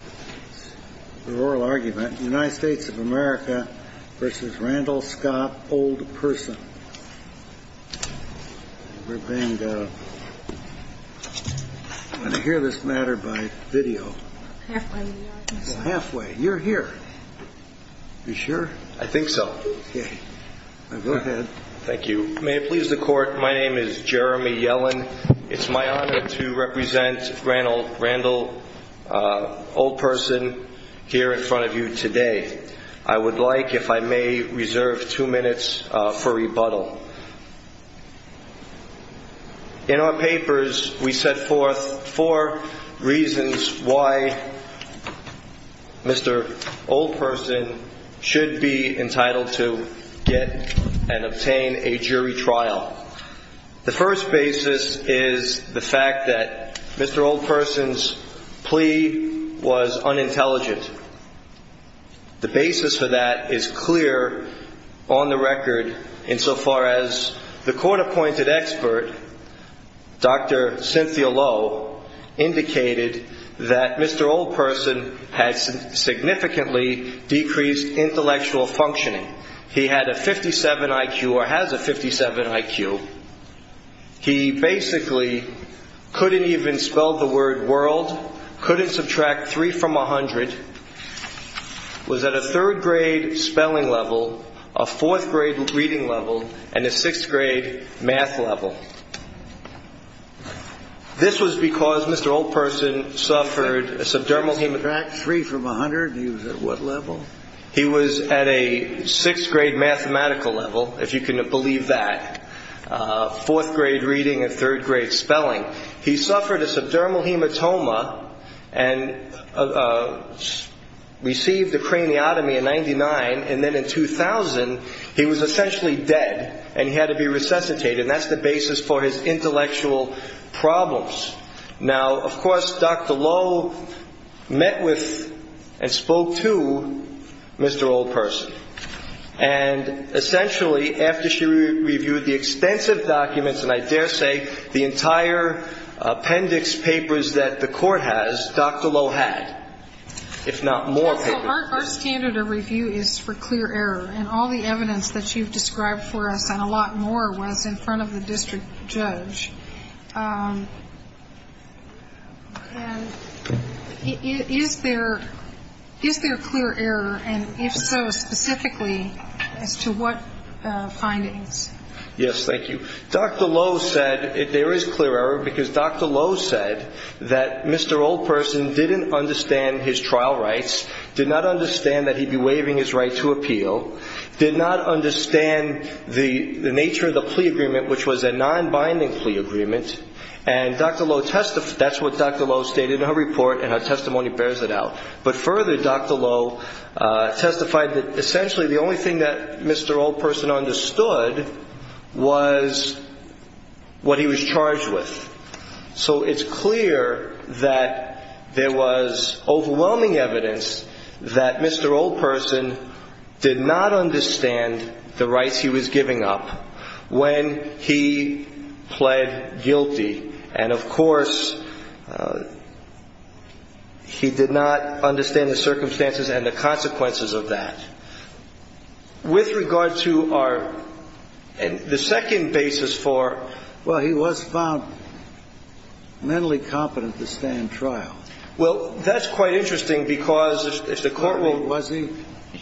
May it please the Court, my name is Jeremy Yellen. It is my honor to represent Randall Old Person here in front of you today. I would like, if I may, reserve two minutes for rebuttal. In our papers, we set forth four reasons why Mr. Old Person should be entitled to get and he was unintelligent. The basis for that is clear on the record insofar as the court-appointed expert, Dr. Cynthia Lowe, indicated that Mr. Old Person had significantly decreased intellectual functioning. He had a 57 IQ or has a 57 IQ. He basically couldn't even spell the word world, couldn't subtract 3 from 100, was at a 3rd grade spelling level, a 4th grade reading level, and a 6th grade math level. This was because Mr. Old Person suffered a subdermal hematoma. He was at a 6th grade mathematical level, if you can believe that. 4th grade reading and 3rd grade spelling. He suffered a subdermal hematoma and received a craniotomy in 99 and then in 2000, he was essentially dead and he had to be resuscitated. That's the basis for his intellectual problems. Now, of course, Dr. Lowe met with and spoke to Mr. Old Person. And essentially, after she reviewed the extensive documents, and I dare say the entire appendix papers that the court has, Dr. Lowe had, if not more papers. Our standard of review is for clear error and all the evidence that you've described for us and a lot more was in front of the district judge. Is there clear error and if so, specifically, as to what findings? Yes, thank you. Dr. Lowe said there is clear error because Dr. Lowe said that Mr. Old Person didn't understand his trial rights, did not understand that he'd be waiving his right to appeal, did not understand the nature of the plea agreement, which was a non-binding plea agreement. And Dr. Lowe testified, that's what Dr. Lowe stated in her report and her testimony bears it out. But further, Dr. Lowe testified that essentially the only thing that Mr. Old Person understood was what he was charged with. So it's clear that there was overwhelming evidence that Mr. Old Person did not understand the rights he was giving up when he pled guilty. And of course, he did not understand the circumstances and the consequences of that. With regard to our, the second basis for, well, he was found mentally competent to stand trial. Well, that's quite interesting because if the court will. Was he?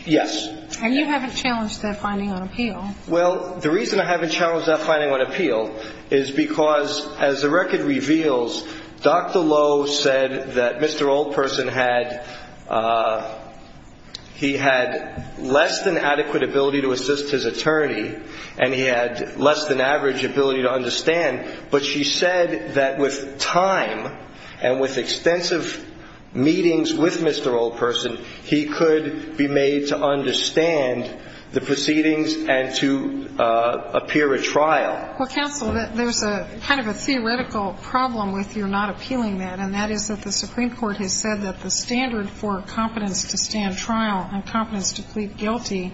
Yes. And you haven't challenged that finding on appeal? Well, the reason I haven't challenged that finding on appeal is because as the record reveals, Dr. Lowe said that Mr. Old Person had, he had less than adequate ability to assist his attorney and he had less than average ability to understand. But she said that with time and with extensive meetings with Mr. Old Person, he could be made to understand the proceedings and to appear at trial. Well, counsel, there's a kind of a theoretical problem with your not appealing that, and that is that the Supreme Court has said that the standard for competence to stand trial and competence to plead guilty,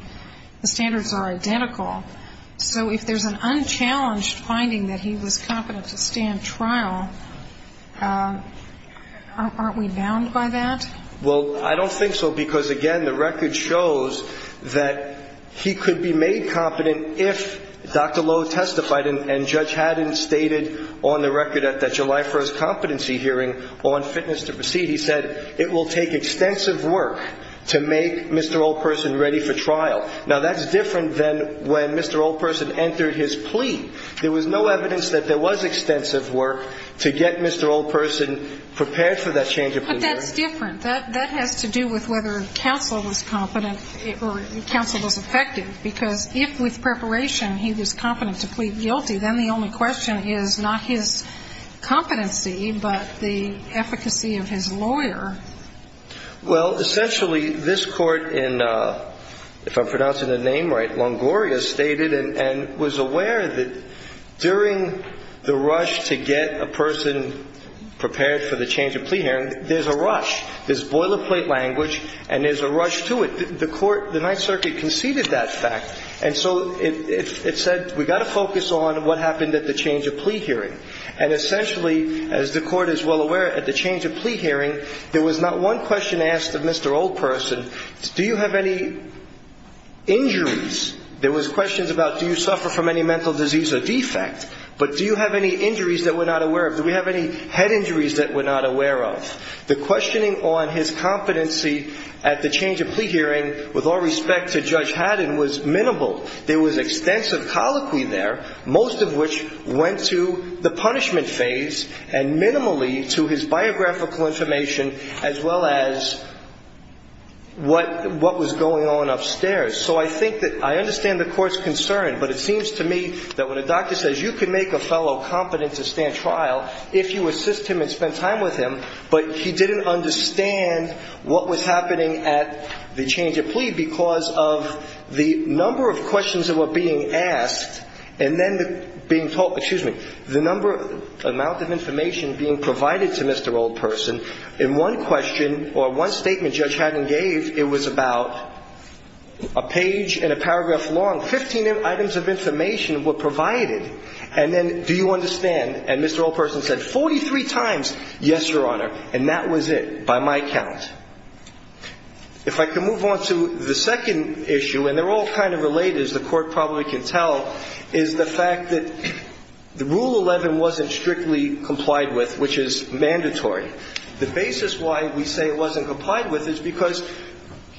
the standards are identical. So if there's an unchallenged finding that he was competent to stand trial, aren't we bound by that? Well, I don't think so because, again, the record shows that he could be made competent if Dr. Lowe testified and Judge Haddon stated on the record at that July 1st competency hearing on fitness to proceed. He said it will take extensive work to make Mr. Old Person ready for trial. Now, that's different than when Mr. Old Person entered his plea. There was no evidence that there was extensive work to get Mr. Old Person prepared for that change of plea. But that's different. That has to do with whether counsel was competent or counsel was effective because if, with preparation, he was competent to plead guilty, then the only question is not his competency but the efficacy of his lawyer. Well, essentially, this Court in, if I'm pronouncing the name right, Longoria, stated and was aware that during the rush to get a person prepared for the change of plea hearing, there's a rush. There's boilerplate language and there's a rush to it. The Court, the Ninth Circuit conceded that fact. And so it said we've got to focus on what happened at the change of plea hearing. And essentially, as the Court is well aware, at the change of plea hearing, there was not one question asked of Mr. Old Person. Do you have any injuries? There was questions about do you suffer from any mental disease or defect. But do you have any injuries that we're not aware of? Do we have any head injuries that we're not aware of? The questioning on his competency at the change of plea hearing with all respect to Judge Haddon was minimal. There was extensive colloquy there, most of which went to the punishment phase and minimally to his biographical information as well as what was going on upstairs. So I think that I understand the Court's concern, but it seems to me that when a doctor says you can make a fellow competent to stand trial if you assist him and spend time with him, but he didn't understand what was happening at the change of plea because of the number of questions that were being asked and then being told, excuse me, the number, amount of information being provided to Mr. Old Person. In one question or one statement Judge Haddon gave, it was about a page and a paragraph long. Fifteen items of information were provided. And then do you understand? And Mr. Old Person said 43 times, yes, Your Honor, and that was it by my count. If I can move on to the second issue, and they're all kind of related as the Court probably can tell, is the fact that Rule 11 wasn't strictly complied with, which is mandatory. The basis why we say it wasn't complied with is because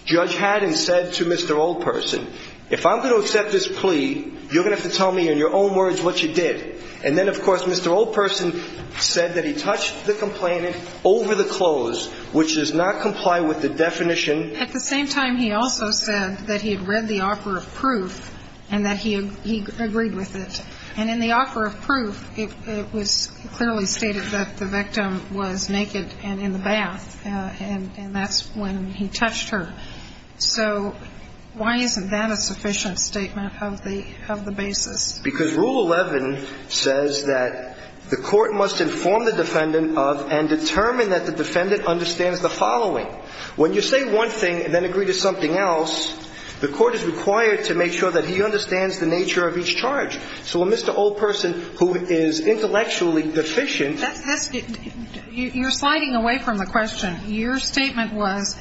Judge Haddon said to Mr. Old Person, if I'm going to accept this plea, you're going to have to tell me in your own words what you did. And then, of course, Mr. Old Person said that he touched the complainant over the clothes, which does not comply with the definition. At the same time, he also said that he had read the offer of proof and that he agreed with it. And in the offer of proof, it was clearly stated that the victim was naked and in the bath, and that's when he touched her. So why isn't that a sufficient statement of the basis? Because Rule 11 says that the Court must inform the defendant of and determine that the defendant understands the following. When you say one thing and then agree to something else, the Court is required to make sure that he understands the nature of each charge. So when Mr. Old Person, who is intellectually deficient – That's – you're sliding away from the question. Your statement was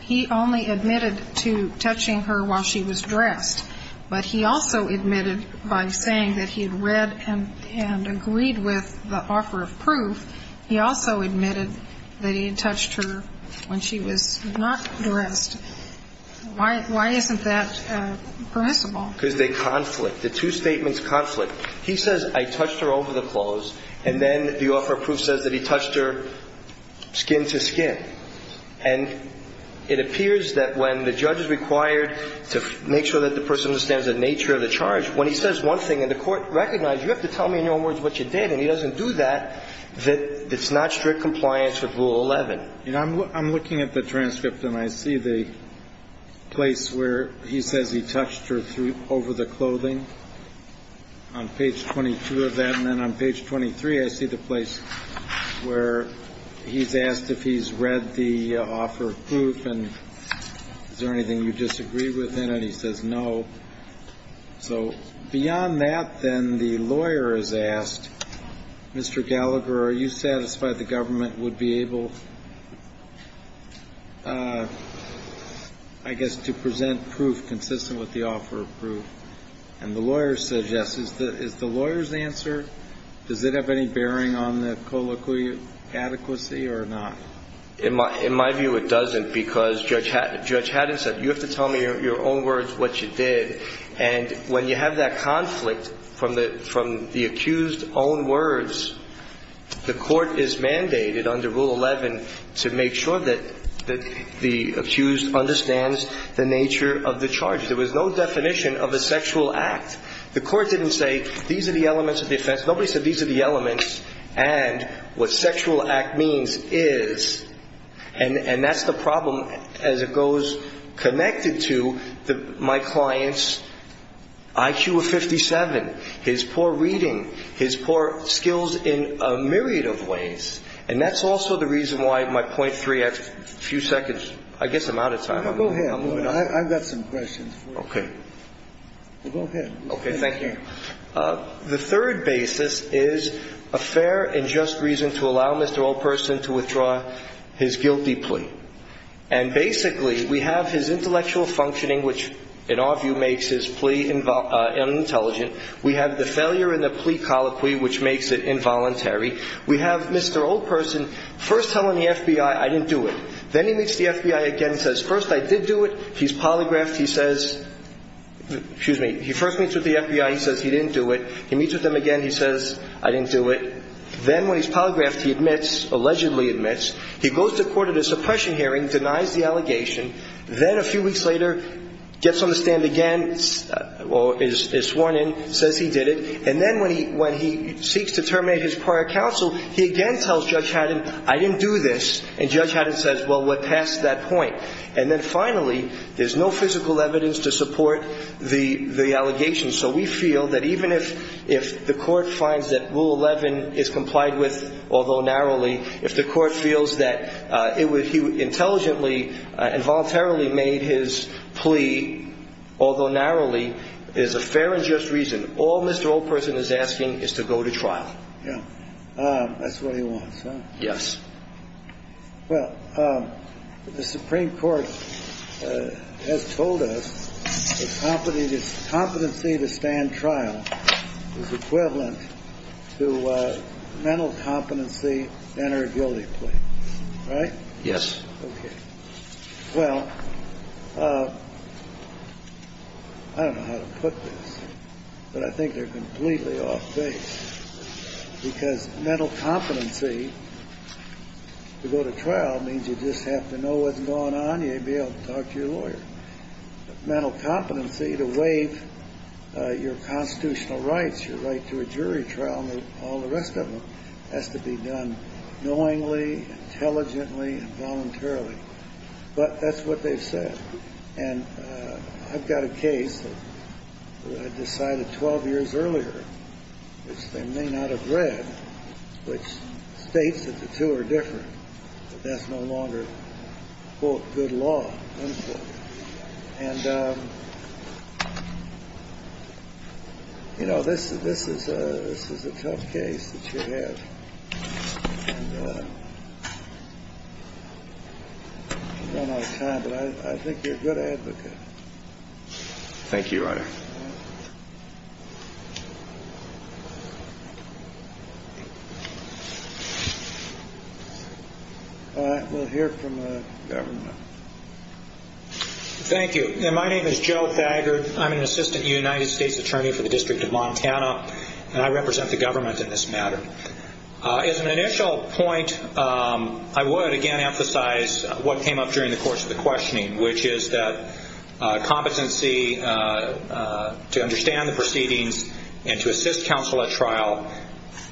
he only admitted to touching her while she was dressed, but he also admitted by saying that he had read and agreed with the offer of proof, he also admitted that he had touched her when she was not dressed. Why isn't that permissible? Because they conflict. The two statements conflict. He says, I touched her over the clothes, and then the offer of proof says that he touched her skin to skin. And it appears that when the judge is required to make sure that the person understands the nature of the charge, when he says one thing and the Court recognizes, you have to tell me in your own words what you did, and he doesn't do that, that it's not strict compliance with Rule 11. I'm looking at the transcript, and I see the place where he says he touched her over the clothing on page 22 of that, and then on page 23, I see the place where he's asked if he's read the offer of proof, and is there anything you disagree with, and he says no. So beyond that, then, the lawyer is asked, Mr. Gallagher, are you satisfied the government would be able, I guess, to present proof consistent with the offer of proof? And the lawyer says yes. Is the lawyer's answer, does it have any bearing on the colloquial adequacy or not? In my view, it doesn't, because Judge Haddon said, you have to tell me in your own words what you did, and when you have that conflict from the accused's own words, the Court is mandated under Rule 11 to make sure that the accused understands the nature of the charge. There was no definition of a sexual act. The Court didn't say, these are the elements of the offense. Nobody said these are the elements and what sexual act means is, and that's the problem as it goes, connected to my client's IQ of 57, his poor reading, his poor skills in a myriad of ways. And that's also the reason why my point three, I have a few seconds. I guess I'm out of time. Go ahead. I've got some questions. Okay. Go ahead. Okay. Thank you. The third basis is a fair and just reason to allow Mr. Oldperson to withdraw his guilty plea. And basically, we have his intellectual functioning, which in our view makes his plea unintelligent. We have the failure in the plea colloquy, which makes it involuntary. We have Mr. Oldperson first telling the FBI I didn't do it. Then he meets the FBI again and says, first, I did do it. He's polygraphed. Excuse me. He first meets with the FBI. He says he didn't do it. He meets with them again. He says, I didn't do it. Then when he's polygraphed, he admits, allegedly admits. He goes to court at a suppression hearing, denies the allegation. Then a few weeks later, gets on the stand again or is sworn in, says he did it. And then when he seeks to terminate his prior counsel, he again tells Judge Haddon, I didn't do this. And Judge Haddon says, well, we're past that point. And then finally, there's no physical evidence to support the allegation. So we feel that even if the court finds that Rule 11 is complied with, although narrowly, if the court feels that he intelligently and voluntarily made his plea, although narrowly, is a fair and just reason, all Mr. Oldperson is asking is to go to trial. Yeah. That's what he wants, huh? Yes. Well, the Supreme Court has told us that competency to stand trial is equivalent to mental competency to enter a guilty plea. Right? Yes. Okay. Well, I don't know how to put this, but I think they're completely off base. Because mental competency to go to trial means you just have to know what's going on. You may be able to talk to your lawyer. But mental competency to waive your constitutional rights, your right to a jury trial, all the rest of them has to be done knowingly, intelligently, and voluntarily. But that's what they've said. And I've got a case that I decided 12 years earlier, which they may not have read, which states that the two are different, that that's no longer, quote, good law, unquote. And, you know, this is a tough case that you have. And I don't have time, but I think you're a good advocate. All right. We'll hear from the government. Thank you. My name is Joe Thagard. I'm an assistant United States attorney for the District of Montana, and I represent the government in this matter. As an initial point, I would, again, emphasize what came up during the course of the questioning, which is that competency to understand the proceedings and to assist counsel at trial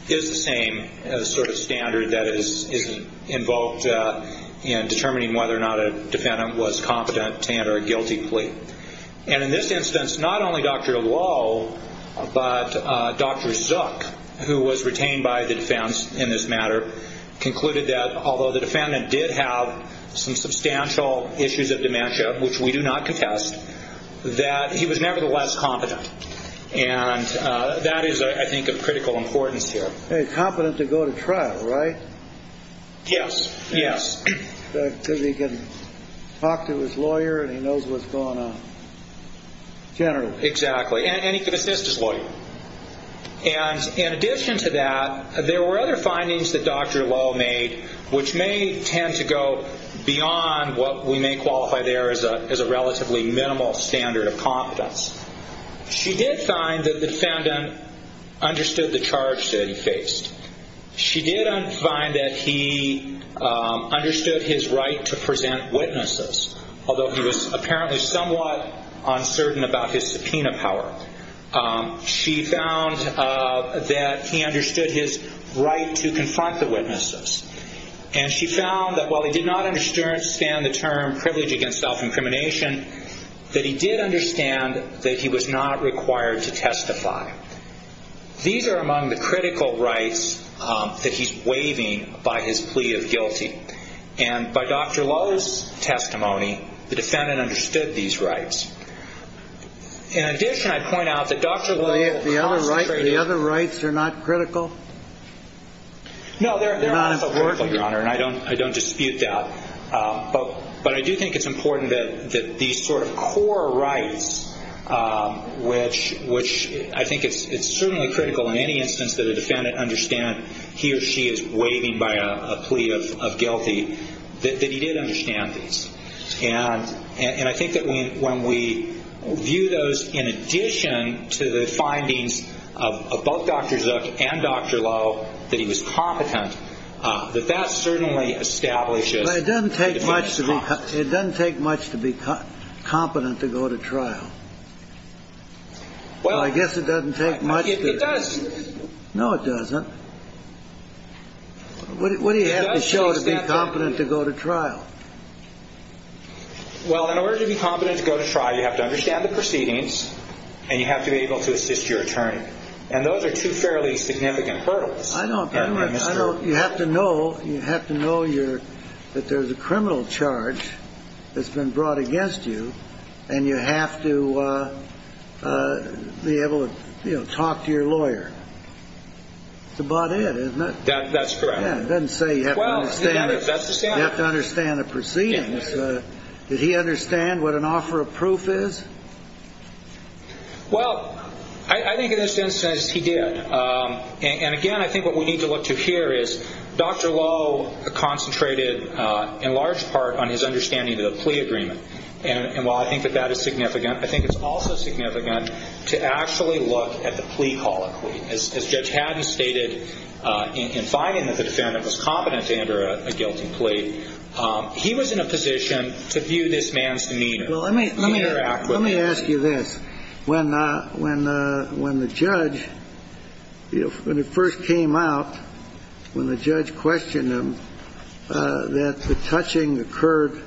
is the same sort of standard that is invoked in determining whether or not a defendant was competent to enter a guilty plea. And in this instance, not only Dr. Lowe, but Dr. Zook, who was retained by the defense in this matter, concluded that although the defendant did have some substantial issues of dementia, which we do not contest, that he was nevertheless competent. And that is, I think, of critical importance here. He's competent to go to trial, right? Yes. Yes. Because he can talk to his lawyer and he knows what's going on generally. Exactly. And he can assist his lawyer. And in addition to that, there were other findings that Dr. Lowe made, which may tend to go beyond what we may qualify there as a relatively minimal standard of competence. She did find that the defendant understood the charge that he faced. She did find that he understood his right to present witnesses, although he was apparently somewhat uncertain about his subpoena power. She found that he understood his right to confront the witnesses. And she found that while he did not understand the term privilege against self-incrimination, that he did understand that he was not required to testify. These are among the critical rights that he's waiving by his plea of guilty. And by Dr. Lowe's testimony, the defendant understood these rights. In addition, I'd point out that Dr. Lowe concentrated. The other rights are not critical? No, they're also critical, Your Honor, and I don't dispute that. But I do think it's important that these sort of core rights, which I think it's certainly critical in any instance that a defendant understand he or she is waiving by a plea of guilty, that he did understand these. And I think that when we view those in addition to the findings of both Dr. Zook and Dr. Lowe, that he was competent, that that certainly establishes the defendant's competence. But it doesn't take much to be competent to go to trial. Well, I guess it doesn't take much. It does. No, it doesn't. What do you have to show to be competent to go to trial? Well, in order to be competent to go to trial, you have to understand the proceedings and you have to be able to assist your attorney. And those are two fairly significant hurdles. I know, but you have to know that there's a criminal charge that's been brought against you and you have to be able to talk to your lawyer. That's about it, isn't it? That's correct. It doesn't say you have to understand the proceedings. Did he understand what an offer of proof is? Well, I think in this instance he did. And, again, I think what we need to look to here is Dr. Lowe concentrated in large part on his understanding of the plea agreement. And while I think that that is significant, I think it's also significant to actually look at the plea colloquy. As Judge Haddon stated in finding that the defendant was competent to enter a guilty plea, he was in a position to view this man's demeanor. Let me ask you this. When the judge first came out, when the judge questioned him that the touching occurred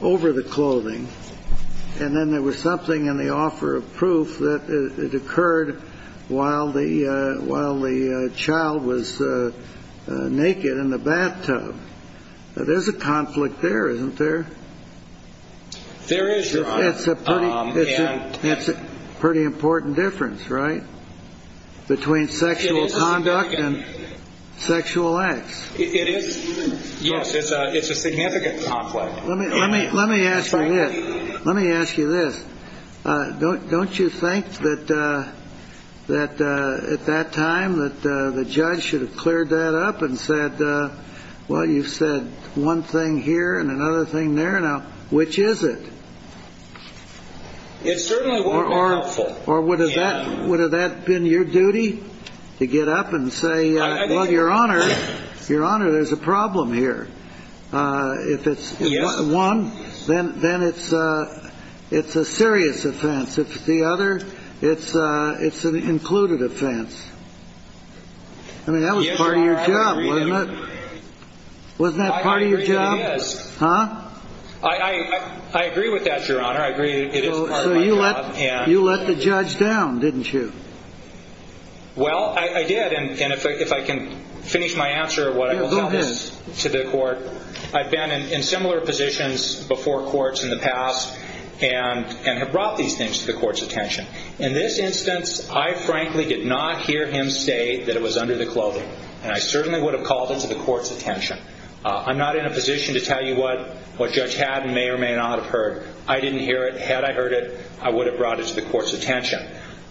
over the clothing and then there was something in the offer of proof that it occurred while the child was naked in the bathtub, there's a conflict there, isn't there? There is, Your Honor. It's a pretty important difference, right, between sexual conduct and sexual acts? It is. Yes, it's a significant conflict. Let me ask you this. Let me ask you this. Don't you think that at that time that the judge should have cleared that up and said, well, you've said one thing here and another thing there. Now, which is it? It certainly wouldn't have been helpful. Or would have that been your duty to get up and say, well, Your Honor, Your Honor, there's a problem here? If it's one, then it's a serious offense. If it's the other, it's an included offense. I mean, that was part of your job, wasn't it? Wasn't that part of your job? Huh? I agree with that, Your Honor. I agree it is part of my job. So you let the judge down, didn't you? Well, I did, and if I can finish my answer of what I will tell this to the court. I've been in similar positions before courts in the past and have brought these things to the court's attention. In this instance, I frankly did not hear him say that it was under the clothing, and I certainly would have called it to the court's attention. I'm not in a position to tell you what Judge Haddon may or may not have heard. I didn't hear it. Had I heard it, I would have brought it to the court's attention.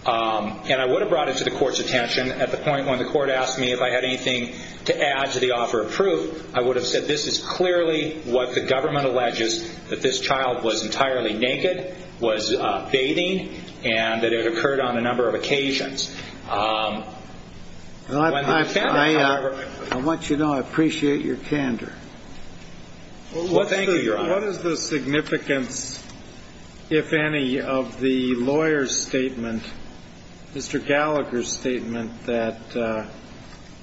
And I would have brought it to the court's attention at the point when the court asked me if I had anything to add to the offer of proof. I would have said this is clearly what the government alleges, that this child was entirely naked, was bathing, and that it occurred on a number of occasions. I want you to know I appreciate your candor. Thank you, Your Honor. What is the significance, if any, of the lawyer's statement, Mr. Gallagher's statement, that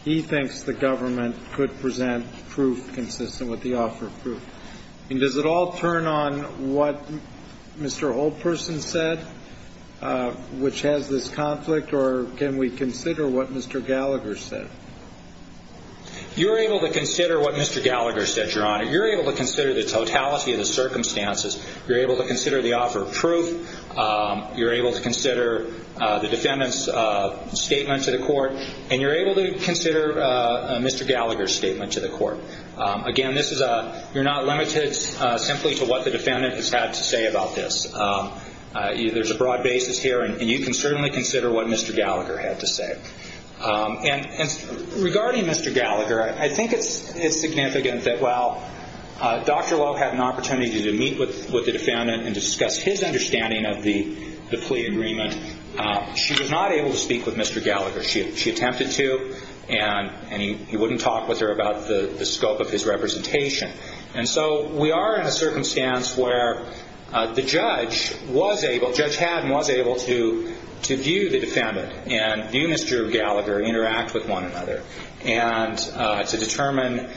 he thinks the government could present proof consistent with the offer of proof? Does it all turn on what Mr. Holperson said, which has this conflict, or can we consider what Mr. Gallagher said? You're able to consider what Mr. Gallagher said, Your Honor. You're able to consider the totality of the circumstances. You're able to consider the defendant's statement to the court. And you're able to consider Mr. Gallagher's statement to the court. Again, you're not limited simply to what the defendant has had to say about this. There's a broad basis here, and you can certainly consider what Mr. Gallagher had to say. And regarding Mr. Gallagher, I think it's significant that while Dr. Lowe had an opportunity to meet with the defendant and discuss his understanding of the plea agreement, she was not able to speak with Mr. Gallagher. She attempted to, and he wouldn't talk with her about the scope of his representation. And so we are in a circumstance where the judge was able, Judge Haddon was able to view the defendant and view Mr. Gallagher, interact with one another, and to determine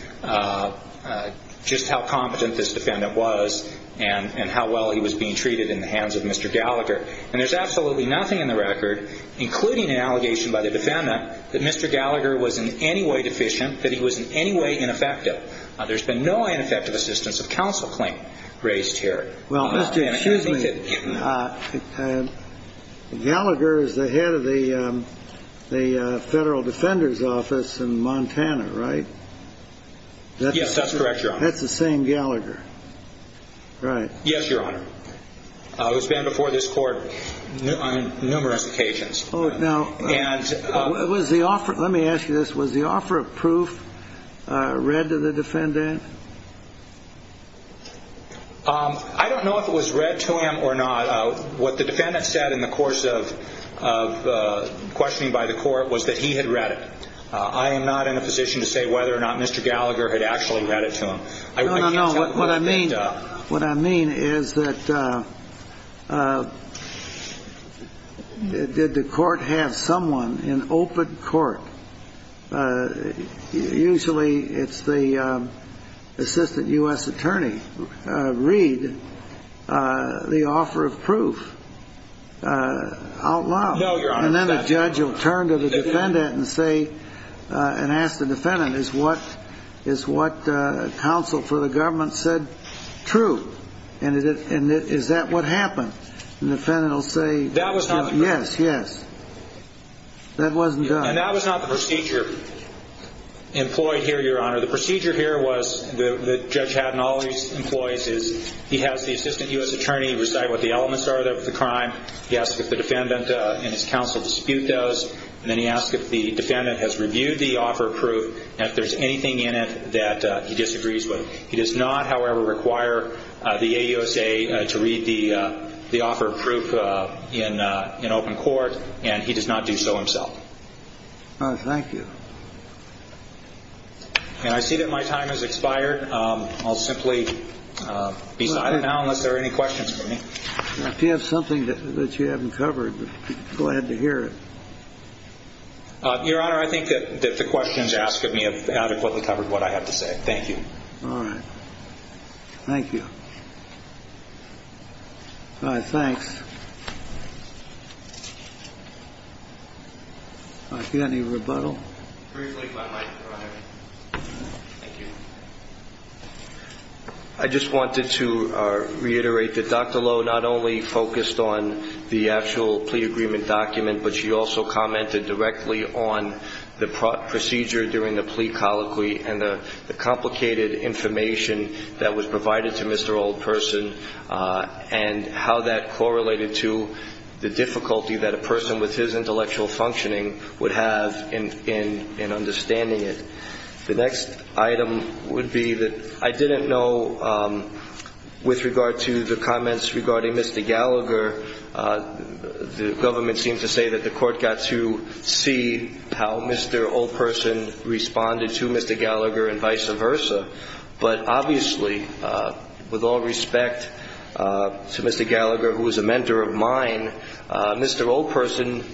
just how competent this defendant was and how well he was being treated in the hands of Mr. Gallagher. And there's absolutely nothing in the record, including an allegation by the defendant, that Mr. Gallagher was in any way deficient, that he was in any way ineffective. There's been no ineffective assistance of counsel claim raised here. Well, excuse me, Gallagher is the head of the Federal Defender's Office in Montana, right? Yes, that's correct, Your Honor. That's the same Gallagher, right? Yes, Your Honor. He's been before this court on numerous occasions. Now, let me ask you this. Was the offer of proof read to the defendant? I don't know if it was read to him or not. What the defendant said in the course of questioning by the court was that he had read it. I am not in a position to say whether or not Mr. Gallagher had actually read it to him. No, no, no. What I mean is that did the court have someone in open court? Usually it's the assistant U.S. attorney read the offer of proof out loud. No, Your Honor. And then the judge will turn to the defendant and say, and ask the defendant, is what counsel for the government said true? And is that what happened? The defendant will say, yes, yes. That wasn't done. And that was not the procedure employed here, Your Honor. The procedure here was that Judge Hadden always employs is he has the assistant U.S. attorney recite what the elements are of the crime. He asks if the defendant in his counsel dispute those, and then he asks if the defendant has reviewed the offer of proof, and if there's anything in it that he disagrees with. He does not, however, require the AUSA to read the offer of proof in open court, and he does not do so himself. All right. Thank you. And I see that my time has expired. I'll simply be silent now unless there are any questions for me. If you have something that you haven't covered, go ahead to hear it. Your Honor, I think that the questions asked of me have adequately covered what I have to say. Thank you. All right. Thank you. All right. Thanks. All right. Do you have any rebuttal? Briefly, if I might, Your Honor. Thank you. I just wanted to reiterate that Dr. Lowe not only focused on the actual plea agreement document, but she also commented directly on the procedure during the plea colloquy and the complicated information that was provided to Mr. Oldperson and how that correlated to the difficulty that a person with his intellectual functioning would have in understanding it. The next item would be that I didn't know, with regard to the comments regarding Mr. Gallagher, the government seems to say that the court got to see how Mr. Oldperson responded to Mr. Gallagher and vice versa. But obviously, with all respect to Mr. Gallagher, who is a mentor of mine, Mr. Oldperson,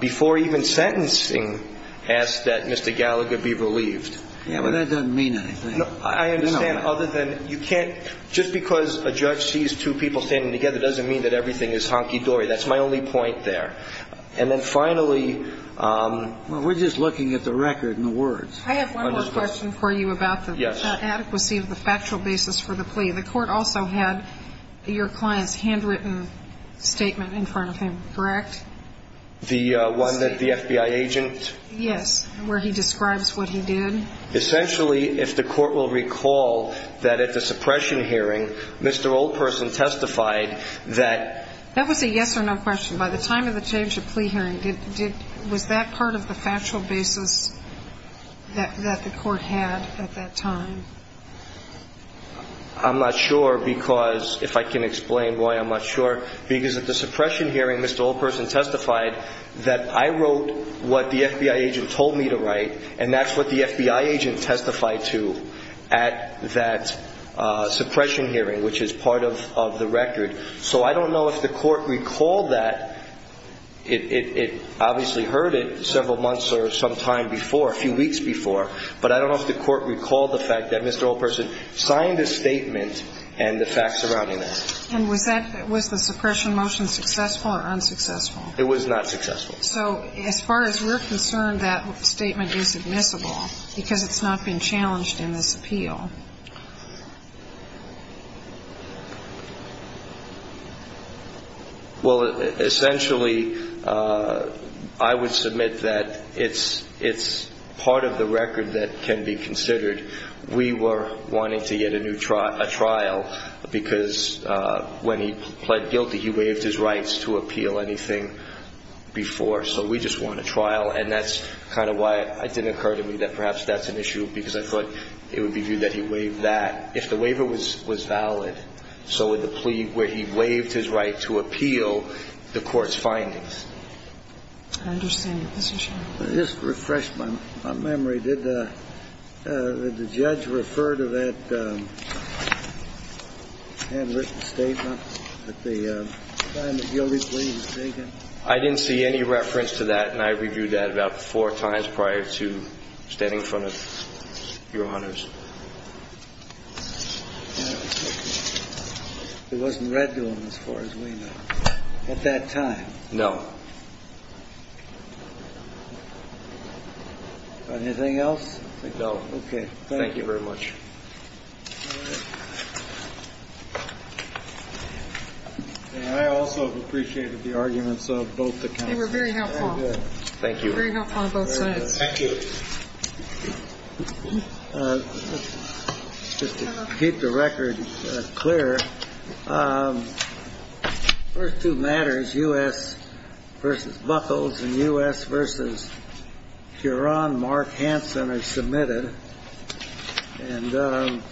before even sentencing, asked that Mr. Gallagher be relieved. Yes, but that doesn't mean anything. I understand. Just because a judge sees two people standing together doesn't mean that everything is hunky-dory. That's my only point there. And then finally, we're just looking at the record and the words. I have one more question for you about the adequacy of the factual basis for the plea. The court also had your client's handwritten statement in front of him, correct? The one that the FBI agent? Yes, where he describes what he did. Essentially, if the court will recall, that at the suppression hearing, Mr. Oldperson testified that That was a yes or no question. By the time of the change of plea hearing, was that part of the factual basis that the court had at that time? I'm not sure because, if I can explain why I'm not sure, because at the suppression hearing, Mr. Oldperson testified that I wrote what the FBI agent told me to write, and that's what the FBI agent testified to at that suppression hearing, which is part of the record. So I don't know if the court recalled that. It obviously heard it several months or some time before, a few weeks before, but I don't know if the court recalled the fact that Mr. Oldperson signed a statement and the facts surrounding that. And was the suppression motion successful or unsuccessful? It was not successful. So as far as we're concerned, that statement is admissible because it's not been challenged in this appeal. Well, essentially, I would submit that it's part of the record that can be considered. We were wanting to get a new trial, a trial, because when he pled guilty, he waived his rights to appeal anything before. So we just want a trial. And that's kind of why it didn't occur to me that perhaps that's an issue because I thought it would be viewed that he waived that. If the waiver was valid, so would the plea where he waived his right to appeal the court's findings. I understand your position. I just refreshed my memory. Did the judge refer to that handwritten statement at the time the guilty plea was taken? I didn't see any reference to that, and I reviewed that about four times prior to standing in front of Your Honors. It wasn't read to him as far as we know at that time? No. Anything else? No. Okay. Thank you very much. I also appreciated the arguments of both the. They were very helpful. Thank you. Very helpful on both sides. Thank you. Just to keep the record clear. First two matters, U.S. versus Buckles and U.S. versus Geron Mark Hansen are submitted. And.